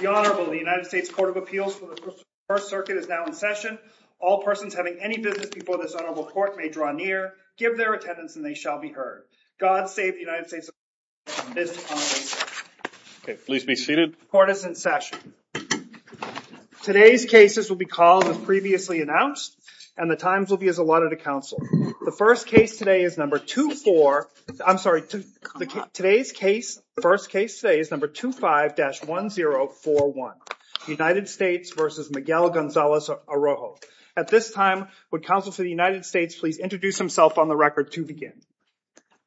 The Honorable United States Court of Appeals for the First Circuit is now in session. All persons having any business before this Honorable Court may draw near, give their attendance and they shall be heard. God save the United States of America from this punishment. Okay please be seated. Court is in session. Today's cases will be called as previously announced and the times will be as allotted to counsel. The first case today is number 2-4, I'm sorry, today's case, first case today is number 2-5-1041. United States versus Miguel Gonzalez-Arocho. At this time would counsel to the United States please introduce himself on the record to begin.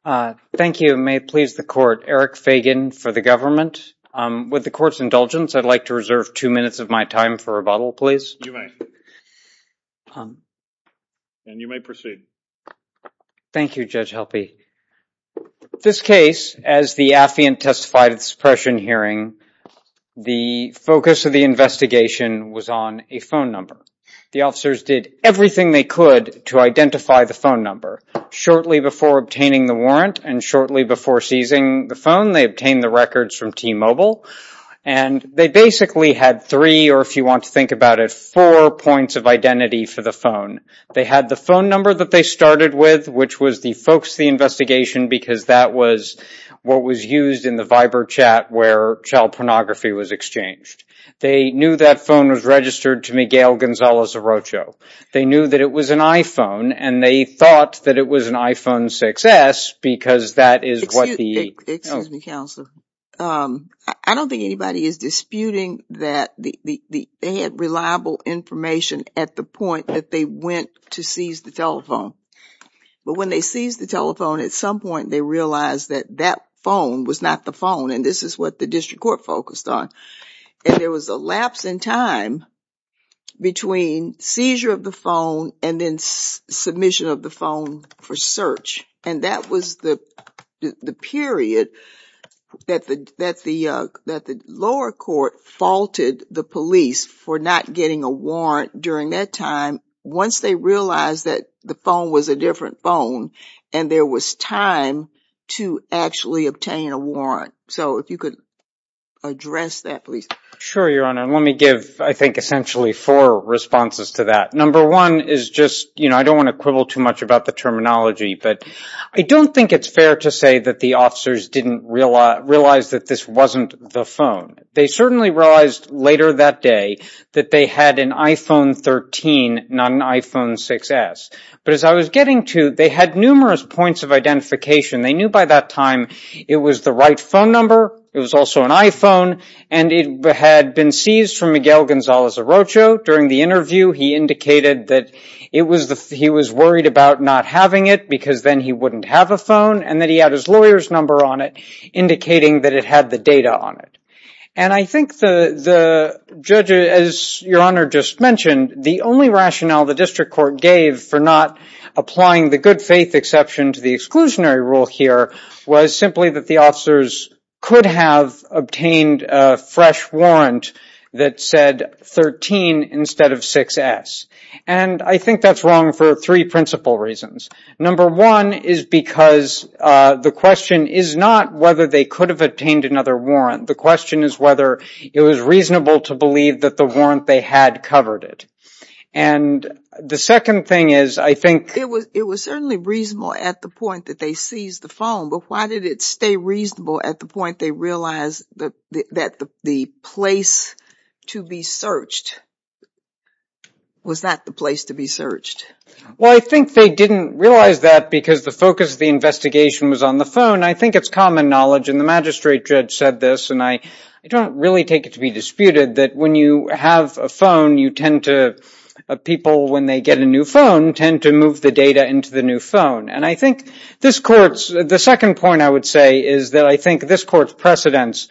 Thank you. May it please the court. Eric Fagan for the government. With the court's indulgence I'd like to reserve two minutes of my time for rebuttal please. You may. And you may proceed. Thank you Judge Helpe. This case, as the affiant testified at suppression hearing, the focus of the investigation was on a phone number. The officers did everything they could to identify the phone number. Shortly before obtaining the warrant and shortly before seizing the phone they obtained the records from T-Mobile and they basically had three or if you four points of identity for the phone. They had the phone number that they started with which was the focus of the investigation because that was what was used in the Viber chat where child pornography was exchanged. They knew that phone was registered to Miguel Gonzalez-Arocho. They knew that it was an iPhone and they thought that it was an iPhone 6s because that is what the... Counselor, I don't think anybody is disputing that they had reliable information at the point that they went to seize the telephone. But when they seized the telephone at some point they realized that that phone was not the phone and this is what the district court focused on. There was a lapse in time between seizure of the phone and then submission of the phone for search and that was the period that the lower court faulted the police for not getting a warrant during that time once they realized that the phone was a different phone and there was time to actually obtain a warrant. So if you could address that please. Sure, Your Honor. Let me give I think essentially four responses to that. Number one is just you know I don't want to quibble too much about the terminology but I don't think it's fair to say that the officers didn't realize that this wasn't the phone. They certainly realized later that day that they had an iPhone 13 not an iPhone 6s. But as I was getting to they had numerous points of identification. They knew by that time it was the right phone number. It was also an iPhone and it had been seized from Miguel not having it because then he wouldn't have a phone and that he had his lawyer's number on it indicating that it had the data on it. And I think the the judge as Your Honor just mentioned the only rationale the district court gave for not applying the good-faith exception to the exclusionary rule here was simply that the officers could have obtained a fresh warrant that said 13 instead of 6s. And I think that's wrong for three principal reasons. Number one is because the question is not whether they could have obtained another warrant. The question is whether it was reasonable to believe that the warrant they had covered it. And the second thing is I think it was it was certainly reasonable at the point that they seized the phone but why did it stay reasonable at the point they realized that the place to be searched was that the place to be searched? Well I think they didn't realize that because the focus of the investigation was on the phone. I think it's common knowledge and the magistrate judge said this and I don't really take it to be disputed that when you have a phone you tend to people when they get a new phone tend to move the data into the new phone. And I think this courts the second point I would say is that I think this court's precedents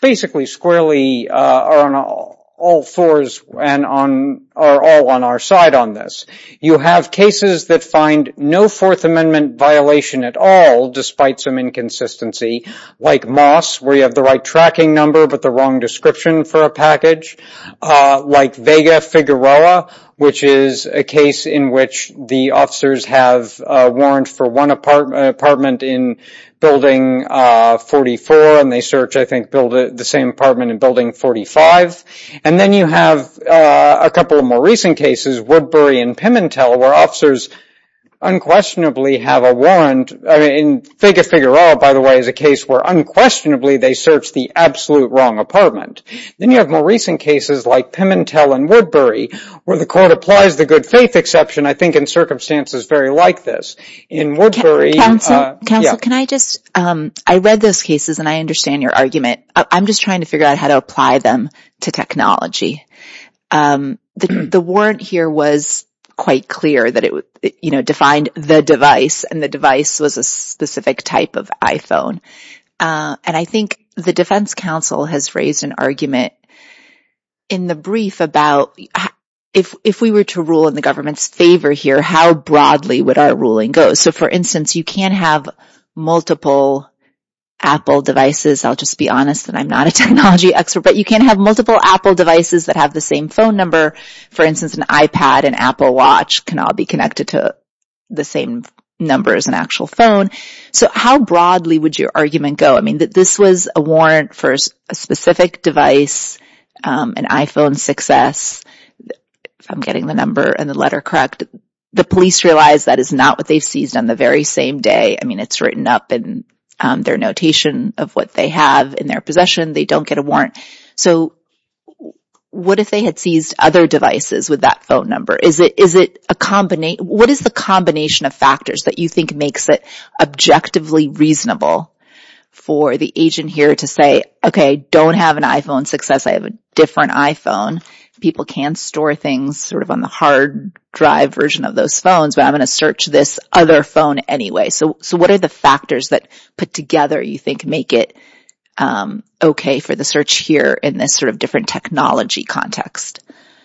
basically squarely are on all fours and are all on our side on this. You have cases that find no Fourth Amendment violation at all despite some inconsistency like Moss where you have the right tracking number but the wrong description for a package. Like Vega Figueroa which is a case in which the officers have a warrant for one apartment apartment in building 44 and they search I think build the same apartment in building 45. And then you have a couple of more recent cases Woodbury and Pimentel where officers unquestionably have a warrant. I mean Vega Figueroa by the way is a case where unquestionably they searched the absolute wrong apartment. Then you have more recent cases like Pimentel and Woodbury where the court applies the good-faith exception I think in circumstances very like this. Counsel can I just I read those cases and I understand your argument. I'm just trying to figure out how to apply them to technology. The warrant here was quite clear that it would you know defined the device and the device was a specific type of iPhone. And I think the Defense Council has raised an argument in the brief about if we were to rule in the government's favor here how broadly would our ruling go? So for instance you can't have multiple Apple devices. I'll just be honest and I'm not a technology expert but you can't have multiple Apple devices that have the same phone number. For instance an iPad and Apple watch can all be connected to the same number as an actual phone. So how broadly would your argument go? I mean that this was a warrant for a specific device an iPhone 6s. I'm getting the number and the letter correct. The police realized that is not what they've seized on the very same day. I mean it's written up in their notation of what they have in their possession. They don't get a warrant. So what if they had seized other devices with that phone number? Is it a combination? What is the combination of factors that you think makes it objectively reasonable for the agent here to say okay I don't have an iPhone 6s. I have a different iPhone. People can store things sort of on the hard drive version of those phones but I'm going to search this other phone anyway. So what are the factors that put together you think make it okay for the search here in this sort of different technology context?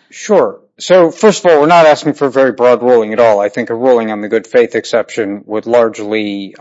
Sure. So first of all we're not asking for a very broad ruling at all. I think a ruling on the good faith exception would largely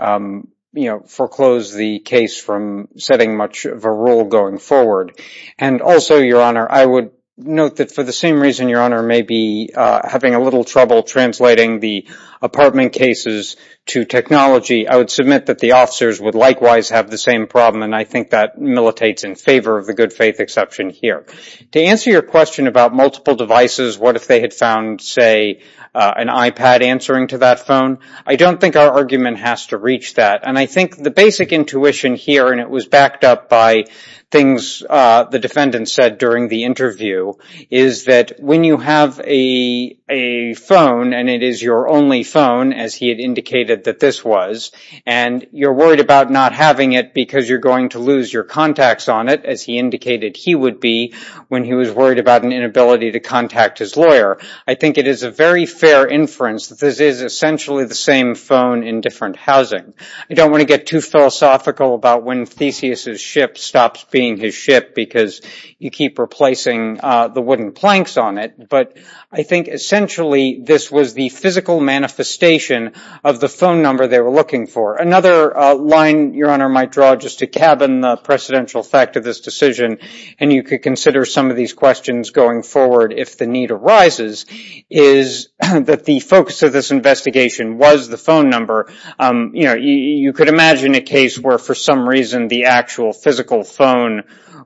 you know foreclose the case from setting much of a rule going forward. And also your honor I would note that for the same reason your honor may be having a little trouble translating the apartment cases to technology. I would submit that the officers would likewise have the same problem and I think that militates in favor of the good faith exception here. To answer your question about multiple devices what if they had found say an iPad answering to that phone. I don't think our argument has to reach that and I think the basic intuition here and it was backed up by things the defendant said during the interview is that when you have a a phone and it is your only phone as he had indicated that this was and you're worried about not having it because you're going to lose your contacts on it as he indicated he would be when he was worried about an inability to contact his lawyer. I think it is a very fair inference that this is essentially the same phone in different housing. I don't want to get too philosophical about when Theseus's ship stops being his ship because you keep replacing the wooden planks on it but I think essentially this was the physical manifestation of the phone number they were looking for. Another line your honor might draw just to cabin the precedential fact of this decision and you could consider some of these questions going forward if the need arises is that the focus of this investigation was the phone number you know you could imagine a case where for some reason the actual physical phone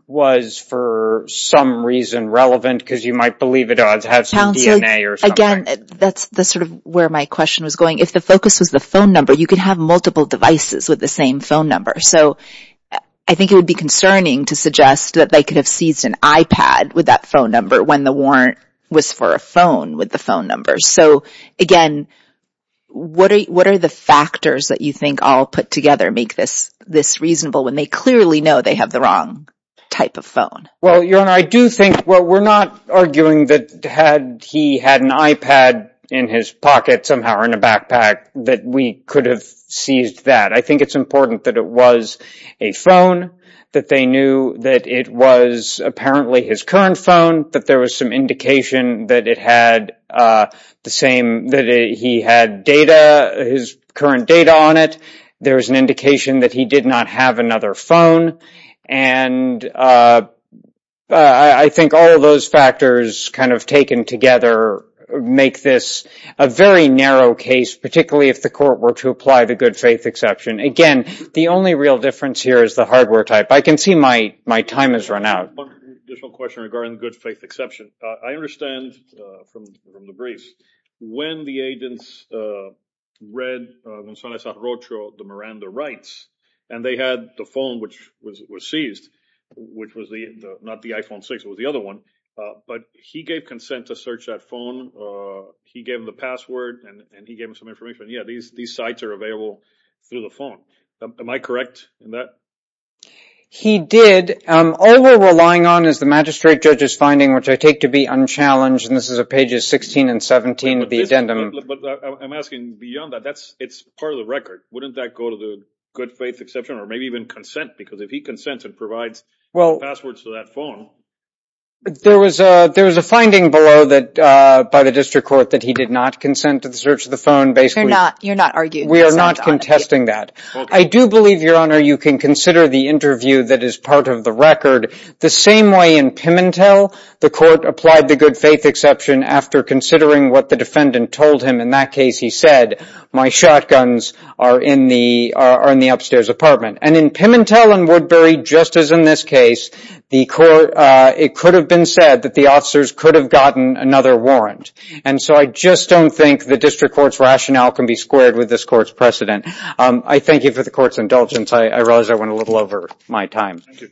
was for some reason relevant because you might believe it had some DNA or something. Again that's the sort of where my question was going if the focus was the phone number you could have multiple devices with the same phone number so I think it would be concerning to suggest that they could have seized an iPad with that phone number when the warrant was for a phone with the phone number. So again what are the factors that you think all put together make this this reasonable when they clearly know they have the wrong type of phone? Well your honor I do think what we're not arguing that had he had an iPad in his pocket somehow or in a backpack that we could have seized that. I knew that it was apparently his current phone that there was some indication that it had the same that he had data his current data on it there was an indication that he did not have another phone and I think all of those factors kind of taken together make this a very narrow case particularly if the court were to apply the good-faith exception. Again the only real difference here is the hardware type. I can see my my time has run out. One additional question regarding the good-faith exception. I understand from the briefs when the agents read Gonzalez Arrocho the Miranda rights and they had the phone which was seized which was the not the iPhone 6 was the other one but he gave consent to search that phone he gave him the password and he gave him some information yeah these sites are available through the phone. Am I correct in that? He did all we're relying on is the magistrate judge's finding which I take to be unchallenged and this is a pages 16 and 17 of the addendum. I'm asking beyond that that's it's part of the record wouldn't that go to the good-faith exception or maybe even consent because if he consented provides well passwords to that phone. There was a there was a finding below that by the district court that he did not consent to search the phone basically not you're not arguing we are not contesting that. I do believe your honor you can consider the interview that is part of the record the same way in Pimentel the court applied the good-faith exception after considering what the defendant told him in that case he said my shotguns are in the are in the upstairs apartment and in Pimentel and Woodbury just as in this case the court it could have been said that the officers could have gotten another warrant and so I just don't think the district court's rationale can be squared with this court's precedent. I thank you for the court's indulgence I realize I went a little over my time. Thank you.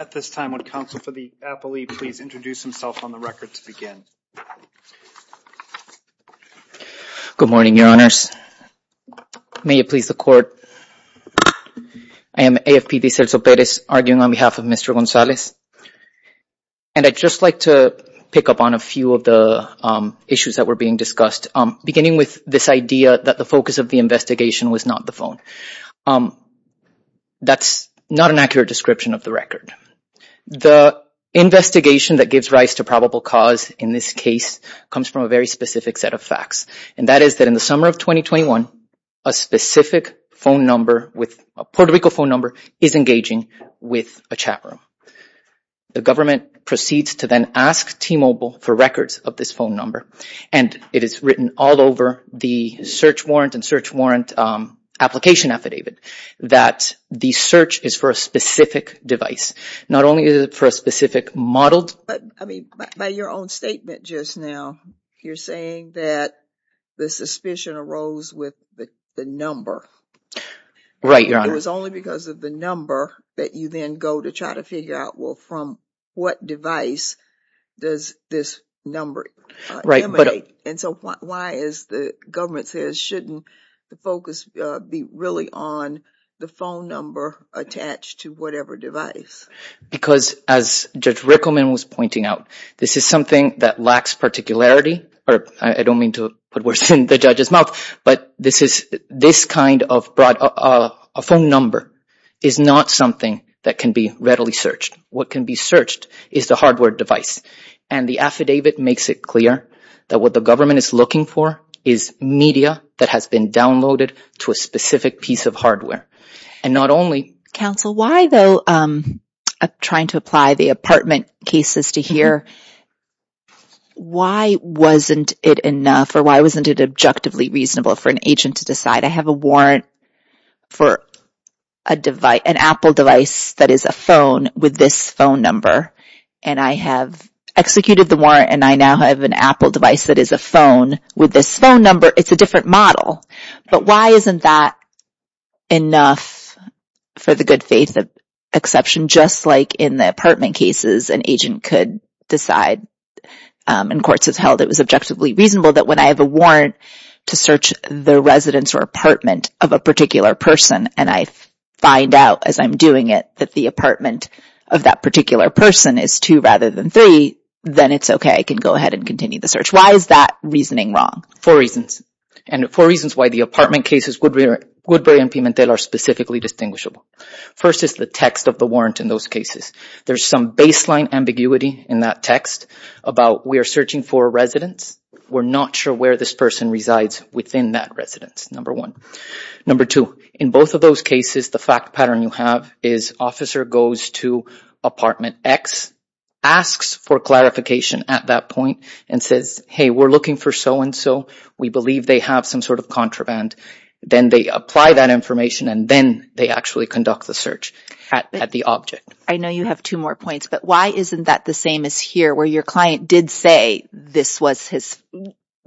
At this time would counsel for the appellee please introduce himself on the record to begin. Good morning your honors. May it please the court I am AFP Vicerzo Perez arguing on behalf of Mr. Gonzalez and I'd just like to pick up on a few of the issues that were being discussed beginning with this idea that the focus of the investigation was not the phone. That's not an accurate description of the record. The investigation that gives rise to probable cause in this case comes from a very specific set of facts and that is that in the summer of 2021 a specific phone number with a Puerto Rico phone number is engaging with a chat room. The government proceeds to then ask T-Mobile for records of this phone number and it is written all over the search warrant and application affidavit that the search is for a specific device. Not only is it for a specific modeled. But I mean by your own statement just now you're saying that the suspicion arose with the number. Right your honor. It was only because of the number that you then go to try to figure out well from what device does this number emanate and so why is the government says shouldn't the focus be really on the phone number attached to whatever device. Because as Judge Rickleman was pointing out this is something that lacks particularity or I don't mean to put words in the judge's mouth but this is this kind of broad a phone number is not something that can be readily searched. What can be searched is the hardware device and the affidavit makes it clear that what the government is looking for is media that has been downloaded to a specific piece of hardware and not only. Counsel why though I'm trying to apply the apartment cases to here why wasn't it enough or why wasn't it objectively reasonable for an agent to decide I have a warrant for a device an Apple device that is a phone with this phone number and I have executed the warrant and I now have an Apple device that is a phone with this phone number it's a different model but why isn't that enough for the good faith of exception just like in the apartment cases an agent could decide and courts have held it was objectively reasonable that when I have a warrant to search the residence or apartment of a particular person and I find out as I'm doing it that the apartment of that particular person is two rather than three then it's okay I can go ahead and continue the search why is that reasoning wrong for reasons and for reasons why the apartment cases would be good Brian Pimentel are specifically distinguishable first is the text of the warrant in those cases there's some baseline ambiguity in that text about we are searching for residents we're not sure where this person resides within that residence number one number two in both of those cases the fact pattern you have is officer goes to apartment X asks for clarification at that point and says hey we're looking for so-and-so we believe they have some sort of contraband then they apply that information and then they actually conduct the search at the object I know you have two more points but why isn't that the same as here where your client did say this was his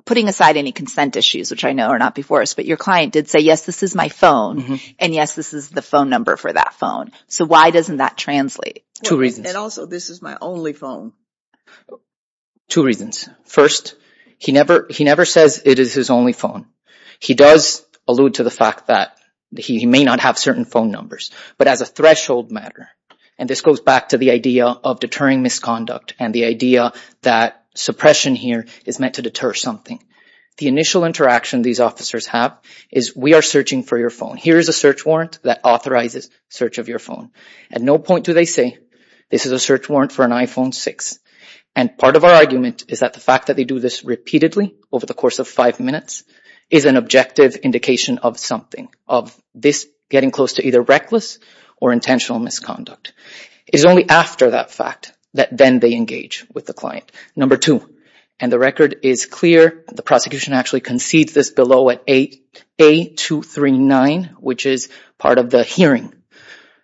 putting aside any consent issues which I know are not before us but your client did say yes this is my phone and yes this is the phone number for that phone so why doesn't that translate two reasons and also this is my only phone two reasons first he never he never says it is his only phone he does allude to the fact that he may not have certain phone numbers but as a threshold matter and this goes back to the idea of deterring misconduct and the idea that suppression here is meant to deter something the initial interaction these officers have is we are searching for your phone here is a search warrant that authorizes search of your phone at no point do they say this is a search warrant for an iPhone 6 and part of our argument is that the fact that they do this repeatedly over the course of five minutes is an objective indication of something of this getting close to either reckless or intentional misconduct is only after that fact that then they engage with the client number two and the record is clear the prosecution actually concedes this below at eight eight two three nine which is part of the hearing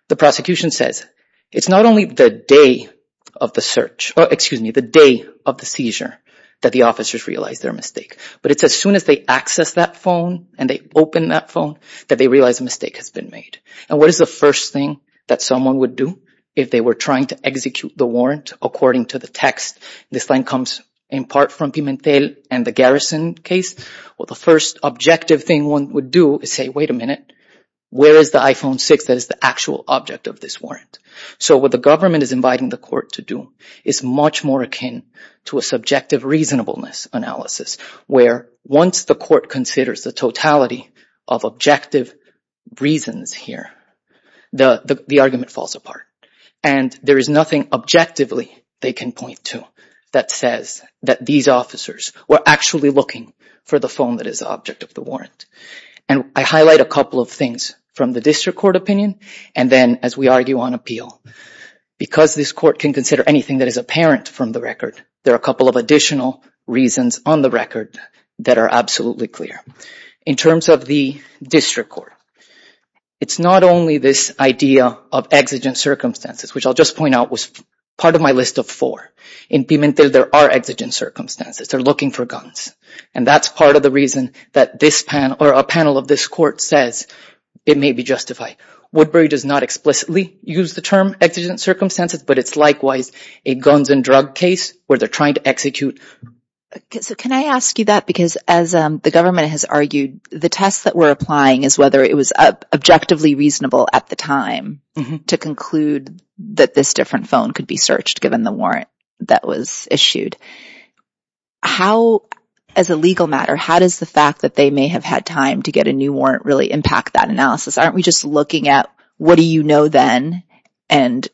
the prosecution says it's not only the day of the search excuse me the day of the seizure that the officers realize their mistake but it's as soon as they access that phone and they open that phone that they realize a mistake has been made and what is the first thing that someone would do if they were trying to execute the warrant according to the text this line comes in part from Pimentel and the Garrison case well the first objective thing one would do is say wait a minute where is the iPhone 6 that is the actual object of this warrant so what the government is inviting the court to do is much more akin to a subjective reasonableness analysis where once the court considers the totality of objective reasons here the the argument falls apart and there is nothing objectively they can point to that says that these officers were actually looking for the phone that is object of the warrant and I highlight a couple of things from the district court opinion and then as we argue on appeal because this court can consider anything that is apparent from the record there are a couple of reasons on the record that are absolutely clear in terms of the district court it's not only this idea of exigent circumstances which I'll just point out was part of my list of four in Pimentel there are exigent circumstances they're looking for guns and that's part of the reason that this pan or a panel of this court says it may be justified Woodbury does not explicitly use the term exigent circumstances but it's likewise a guns and drug case where they're trying to execute so can I ask you that because as the government has argued the tests that we're applying is whether it was objectively reasonable at the time to conclude that this different phone could be searched given the warrant that was issued how as a legal matter how does the fact that they may have had time to get a new warrant really impact that analysis aren't we just looking at what do you know then and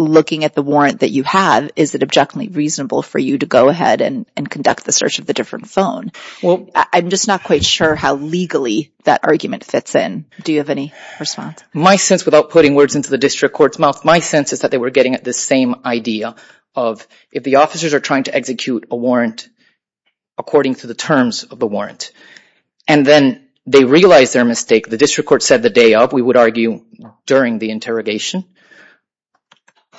looking at the warrant that you have is that objectively reasonable for you to go ahead and conduct the search of the different phone well I'm just not quite sure how legally that argument fits in do you have any response my sense without putting words into the district courts mouth my sense is that they were getting at this same idea of if the officers are trying to execute a warrant according to the terms of the warrant and then they realize their mistake the district court said the day of we would argue during the interrogation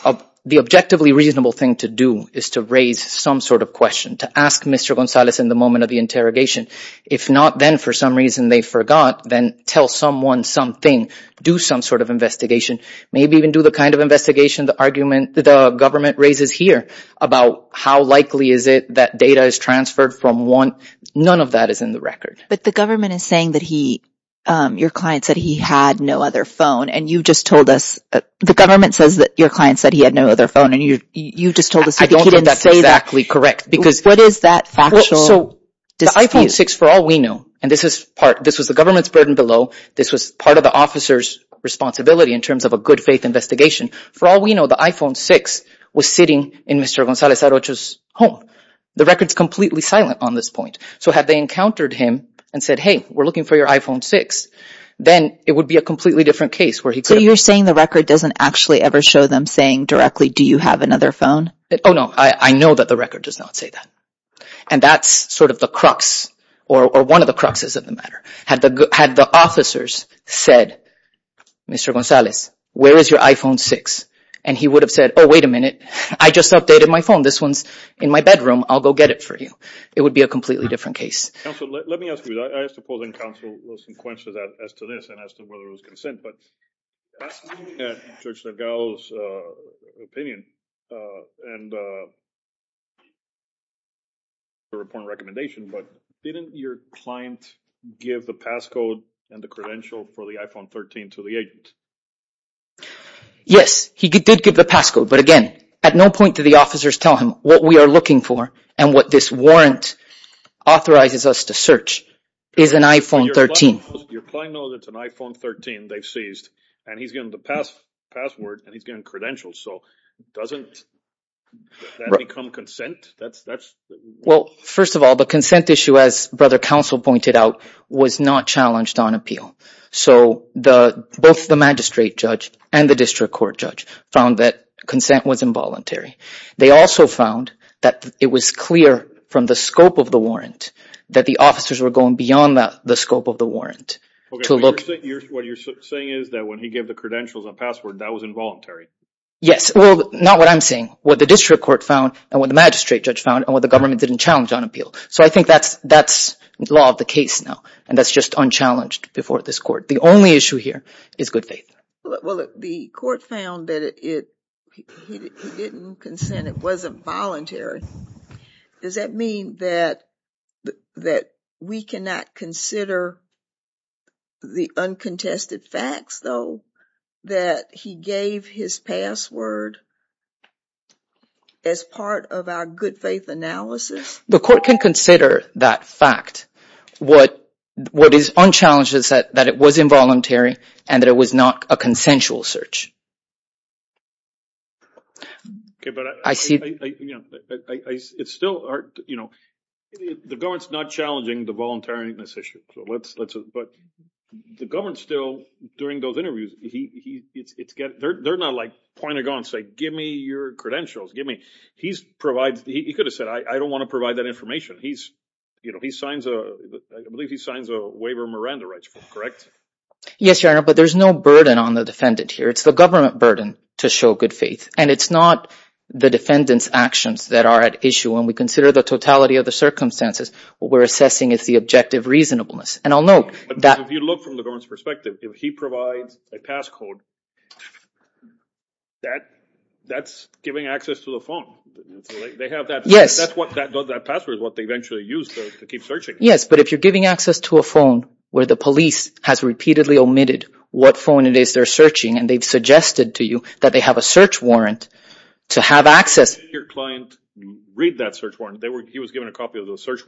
of the objectively reasonable thing to do is to raise some sort of question to ask mr. Gonzalez in the moment of the interrogation if not then for some reason they forgot then tell someone something do some sort of investigation maybe even do the kind of investigation the argument the government raises here about how likely is it that data is transferred from one none of that is in the record but the government is saying that he your client said he had no other phone and you just told us the government says that your client said he had no other phone and you you just told us I don't know that's exactly correct because what is that factual so does iPhone 6 for all we know and this is part this was the government's burden below this was part of the officers responsibility in terms of a good-faith investigation for all we know the iPhone 6 was sitting in mr. Gonzalez at Ochoa's home the records completely silent on this point so have they encountered him and said hey we're looking for your iPhone 6 then it would be a completely different case where he could you're saying the record doesn't actually ever show them saying directly do you have another phone oh no I know that the record does not say that and that's sort of the crux or one of the cruxes of the matter had the good had the officers said mr. Gonzalez where is your iPhone 6 and he would have said oh wait a minute I just updated my phone this one's in my bedroom I'll go get it for you it would be a completely different case but didn't your client give the passcode and the credential for the iPhone 13 to the agent yes he did give the passcode but again at no point do the officers tell him what we are looking for and what this warrant authorizes us to search is an iPhone 13 first of all the consent issue as brother counsel pointed out was not challenged on appeal so the both the magistrate judge and the district from the scope of the warrant that the officers were going beyond that the scope of the warrant to look what you're saying is that when he gave the credentials a password that was involuntary yes well not what I'm saying what the district court found and when the magistrate judge found and what the government didn't challenge on appeal so I think that's that's the law of the case now and that's just unchallenged before this court the only issue here is good faith the court found that it wasn't voluntary does that mean that that we cannot consider the uncontested facts though that he gave his password as part of our good faith analysis the court can consider that fact what what is on challenges that that it was involuntary and that it was not a consensual search I see you know it's still art you know the guards not challenging the voluntariness issue so let's let's but the government still during those interviews he it's get there they're not like pointed on say give me your credentials give me he's provides he could have said I don't want to provide that information he's you know he signs a I believe he signs a correct yes your honor but there's no burden on the defendant here it's the government burden to show good faith and it's not the defendants actions that are at issue when we consider the totality of the circumstances we're assessing it's the objective reasonableness and I'll know that if you look from the government's perspective if he provides a passcode that that's giving access to the phone yes that's what that password is what they eventually use to keep searching yes but if you're giving access to a phone where the police has repeatedly omitted what phone it is they're searching and they've suggested to you that they have a search warrant to have access he was given a copy of the search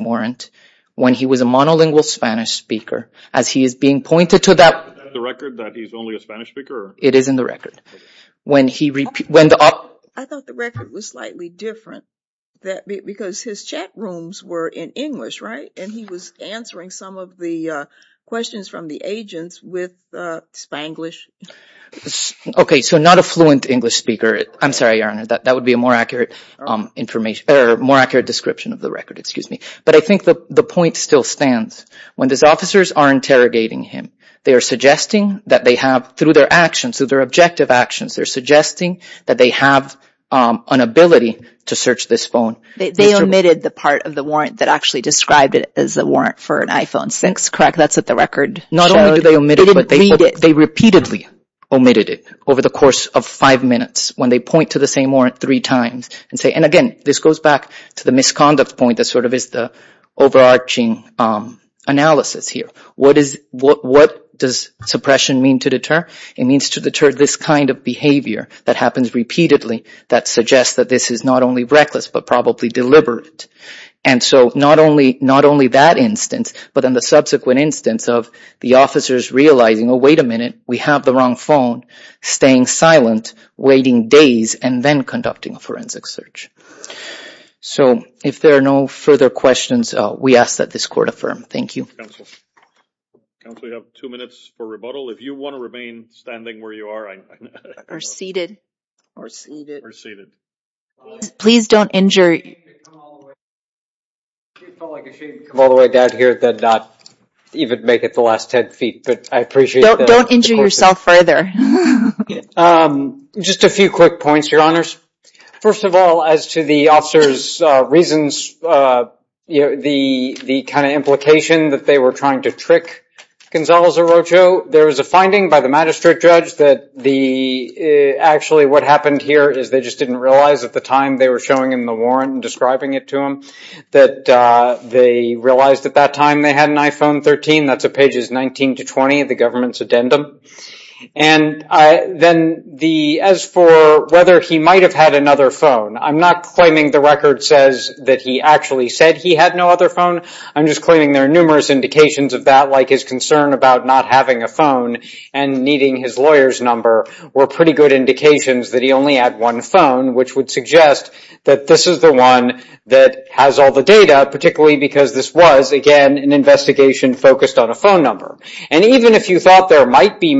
warrant when he was a monolingual Spanish speaker as he is being rooms were in English right and he was answering some of the questions from the agents with Spanglish okay so not a fluent English speaker I'm sorry your honor that that would be a more accurate information or more accurate description of the record excuse me but I think that the point still stands when these officers are interrogating him they are suggesting that they have through their actions through their objective actions they're suggesting that they have an ability to search this phone they omitted the part of the warrant that actually described it as a warrant for an iPhone 6 crack that's at the record not only do they omit it but they repeatedly omitted it over the course of five minutes when they point to the same warrant three times and say and again this goes back to the misconduct point that sort of is the overarching analysis here what is what what does suppression mean to deter it means to deter this kind of behavior that happens repeatedly that suggests that this is not only reckless but probably deliberate and so not only not only that instance but in the subsequent instance of the officers realizing oh wait a minute we have the wrong phone staying silent waiting days and then conducting a forensic search so if there are no further questions we ask that this court affirm thank you two minutes for rebuttal if you want to remain standing where you are or seated or seated please don't injure all the way down here that not even make it the last 10 feet but I appreciate don't injure yourself further just a few quick points your honors first of all as to the officers reasons you know the the kind of implication that they were trying to trick Gonzalez Orocho there was a finding by the magistrate judge that the actually what happened here is they just didn't realize at the time they were showing him the warrant and describing it to him that they realized at that time they had an iPhone 13 that's a pages 19 to 20 of the government's addendum and I then the as for whether he might have had another phone I'm not claiming the record says that he actually said he had no other phone I'm just claiming there are numerous indications of that like his concern about not having a phone and needing his lawyer's number were pretty good indications that he only had one phone which would suggest that this is the one that has all the data particularly because this was again an investigation focused on a phone number and even if you thought there might be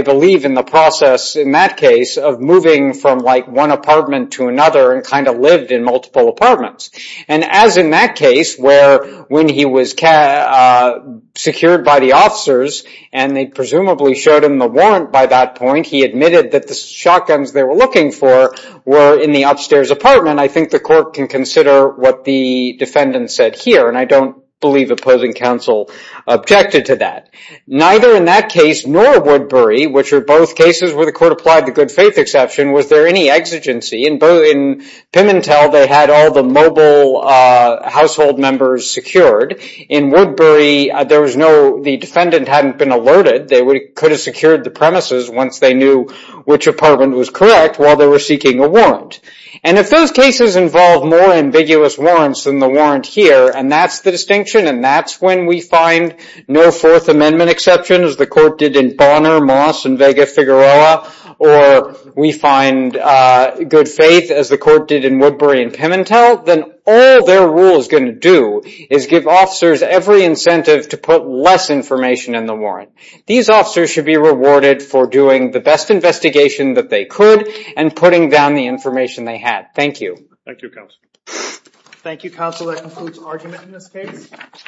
I believe in the process in that case of moving from like one apartment to another and kind of lived in multiple apartments and as in that case where when he was secured by the officers and they presumably showed him the warrant by that point he admitted that the shotguns they were looking for were in the upstairs apartment I think the court can consider what the defendant said here and I believe opposing counsel objected to that neither in that case nor Woodbury which are both cases where the court applied the good-faith exception was there any exigency in both in Pimentel they had all the mobile household members secured in Woodbury there was no the defendant hadn't been alerted they would could have secured the premises once they knew which apartment was correct while they were seeking a warrant and if those cases involve more ambiguous warrants than the warrant here and that's the distinction and that's when we find no Fourth Amendment exceptions the court did in Bonner Moss and Vega Figueroa or we find good faith as the court did in Woodbury and Pimentel then all their rule is going to do is give officers every incentive to put less information in the warrant these officers should be rewarded for doing the best investigation that they could and putting down the information they had thank you thank you council that concludes argument in this case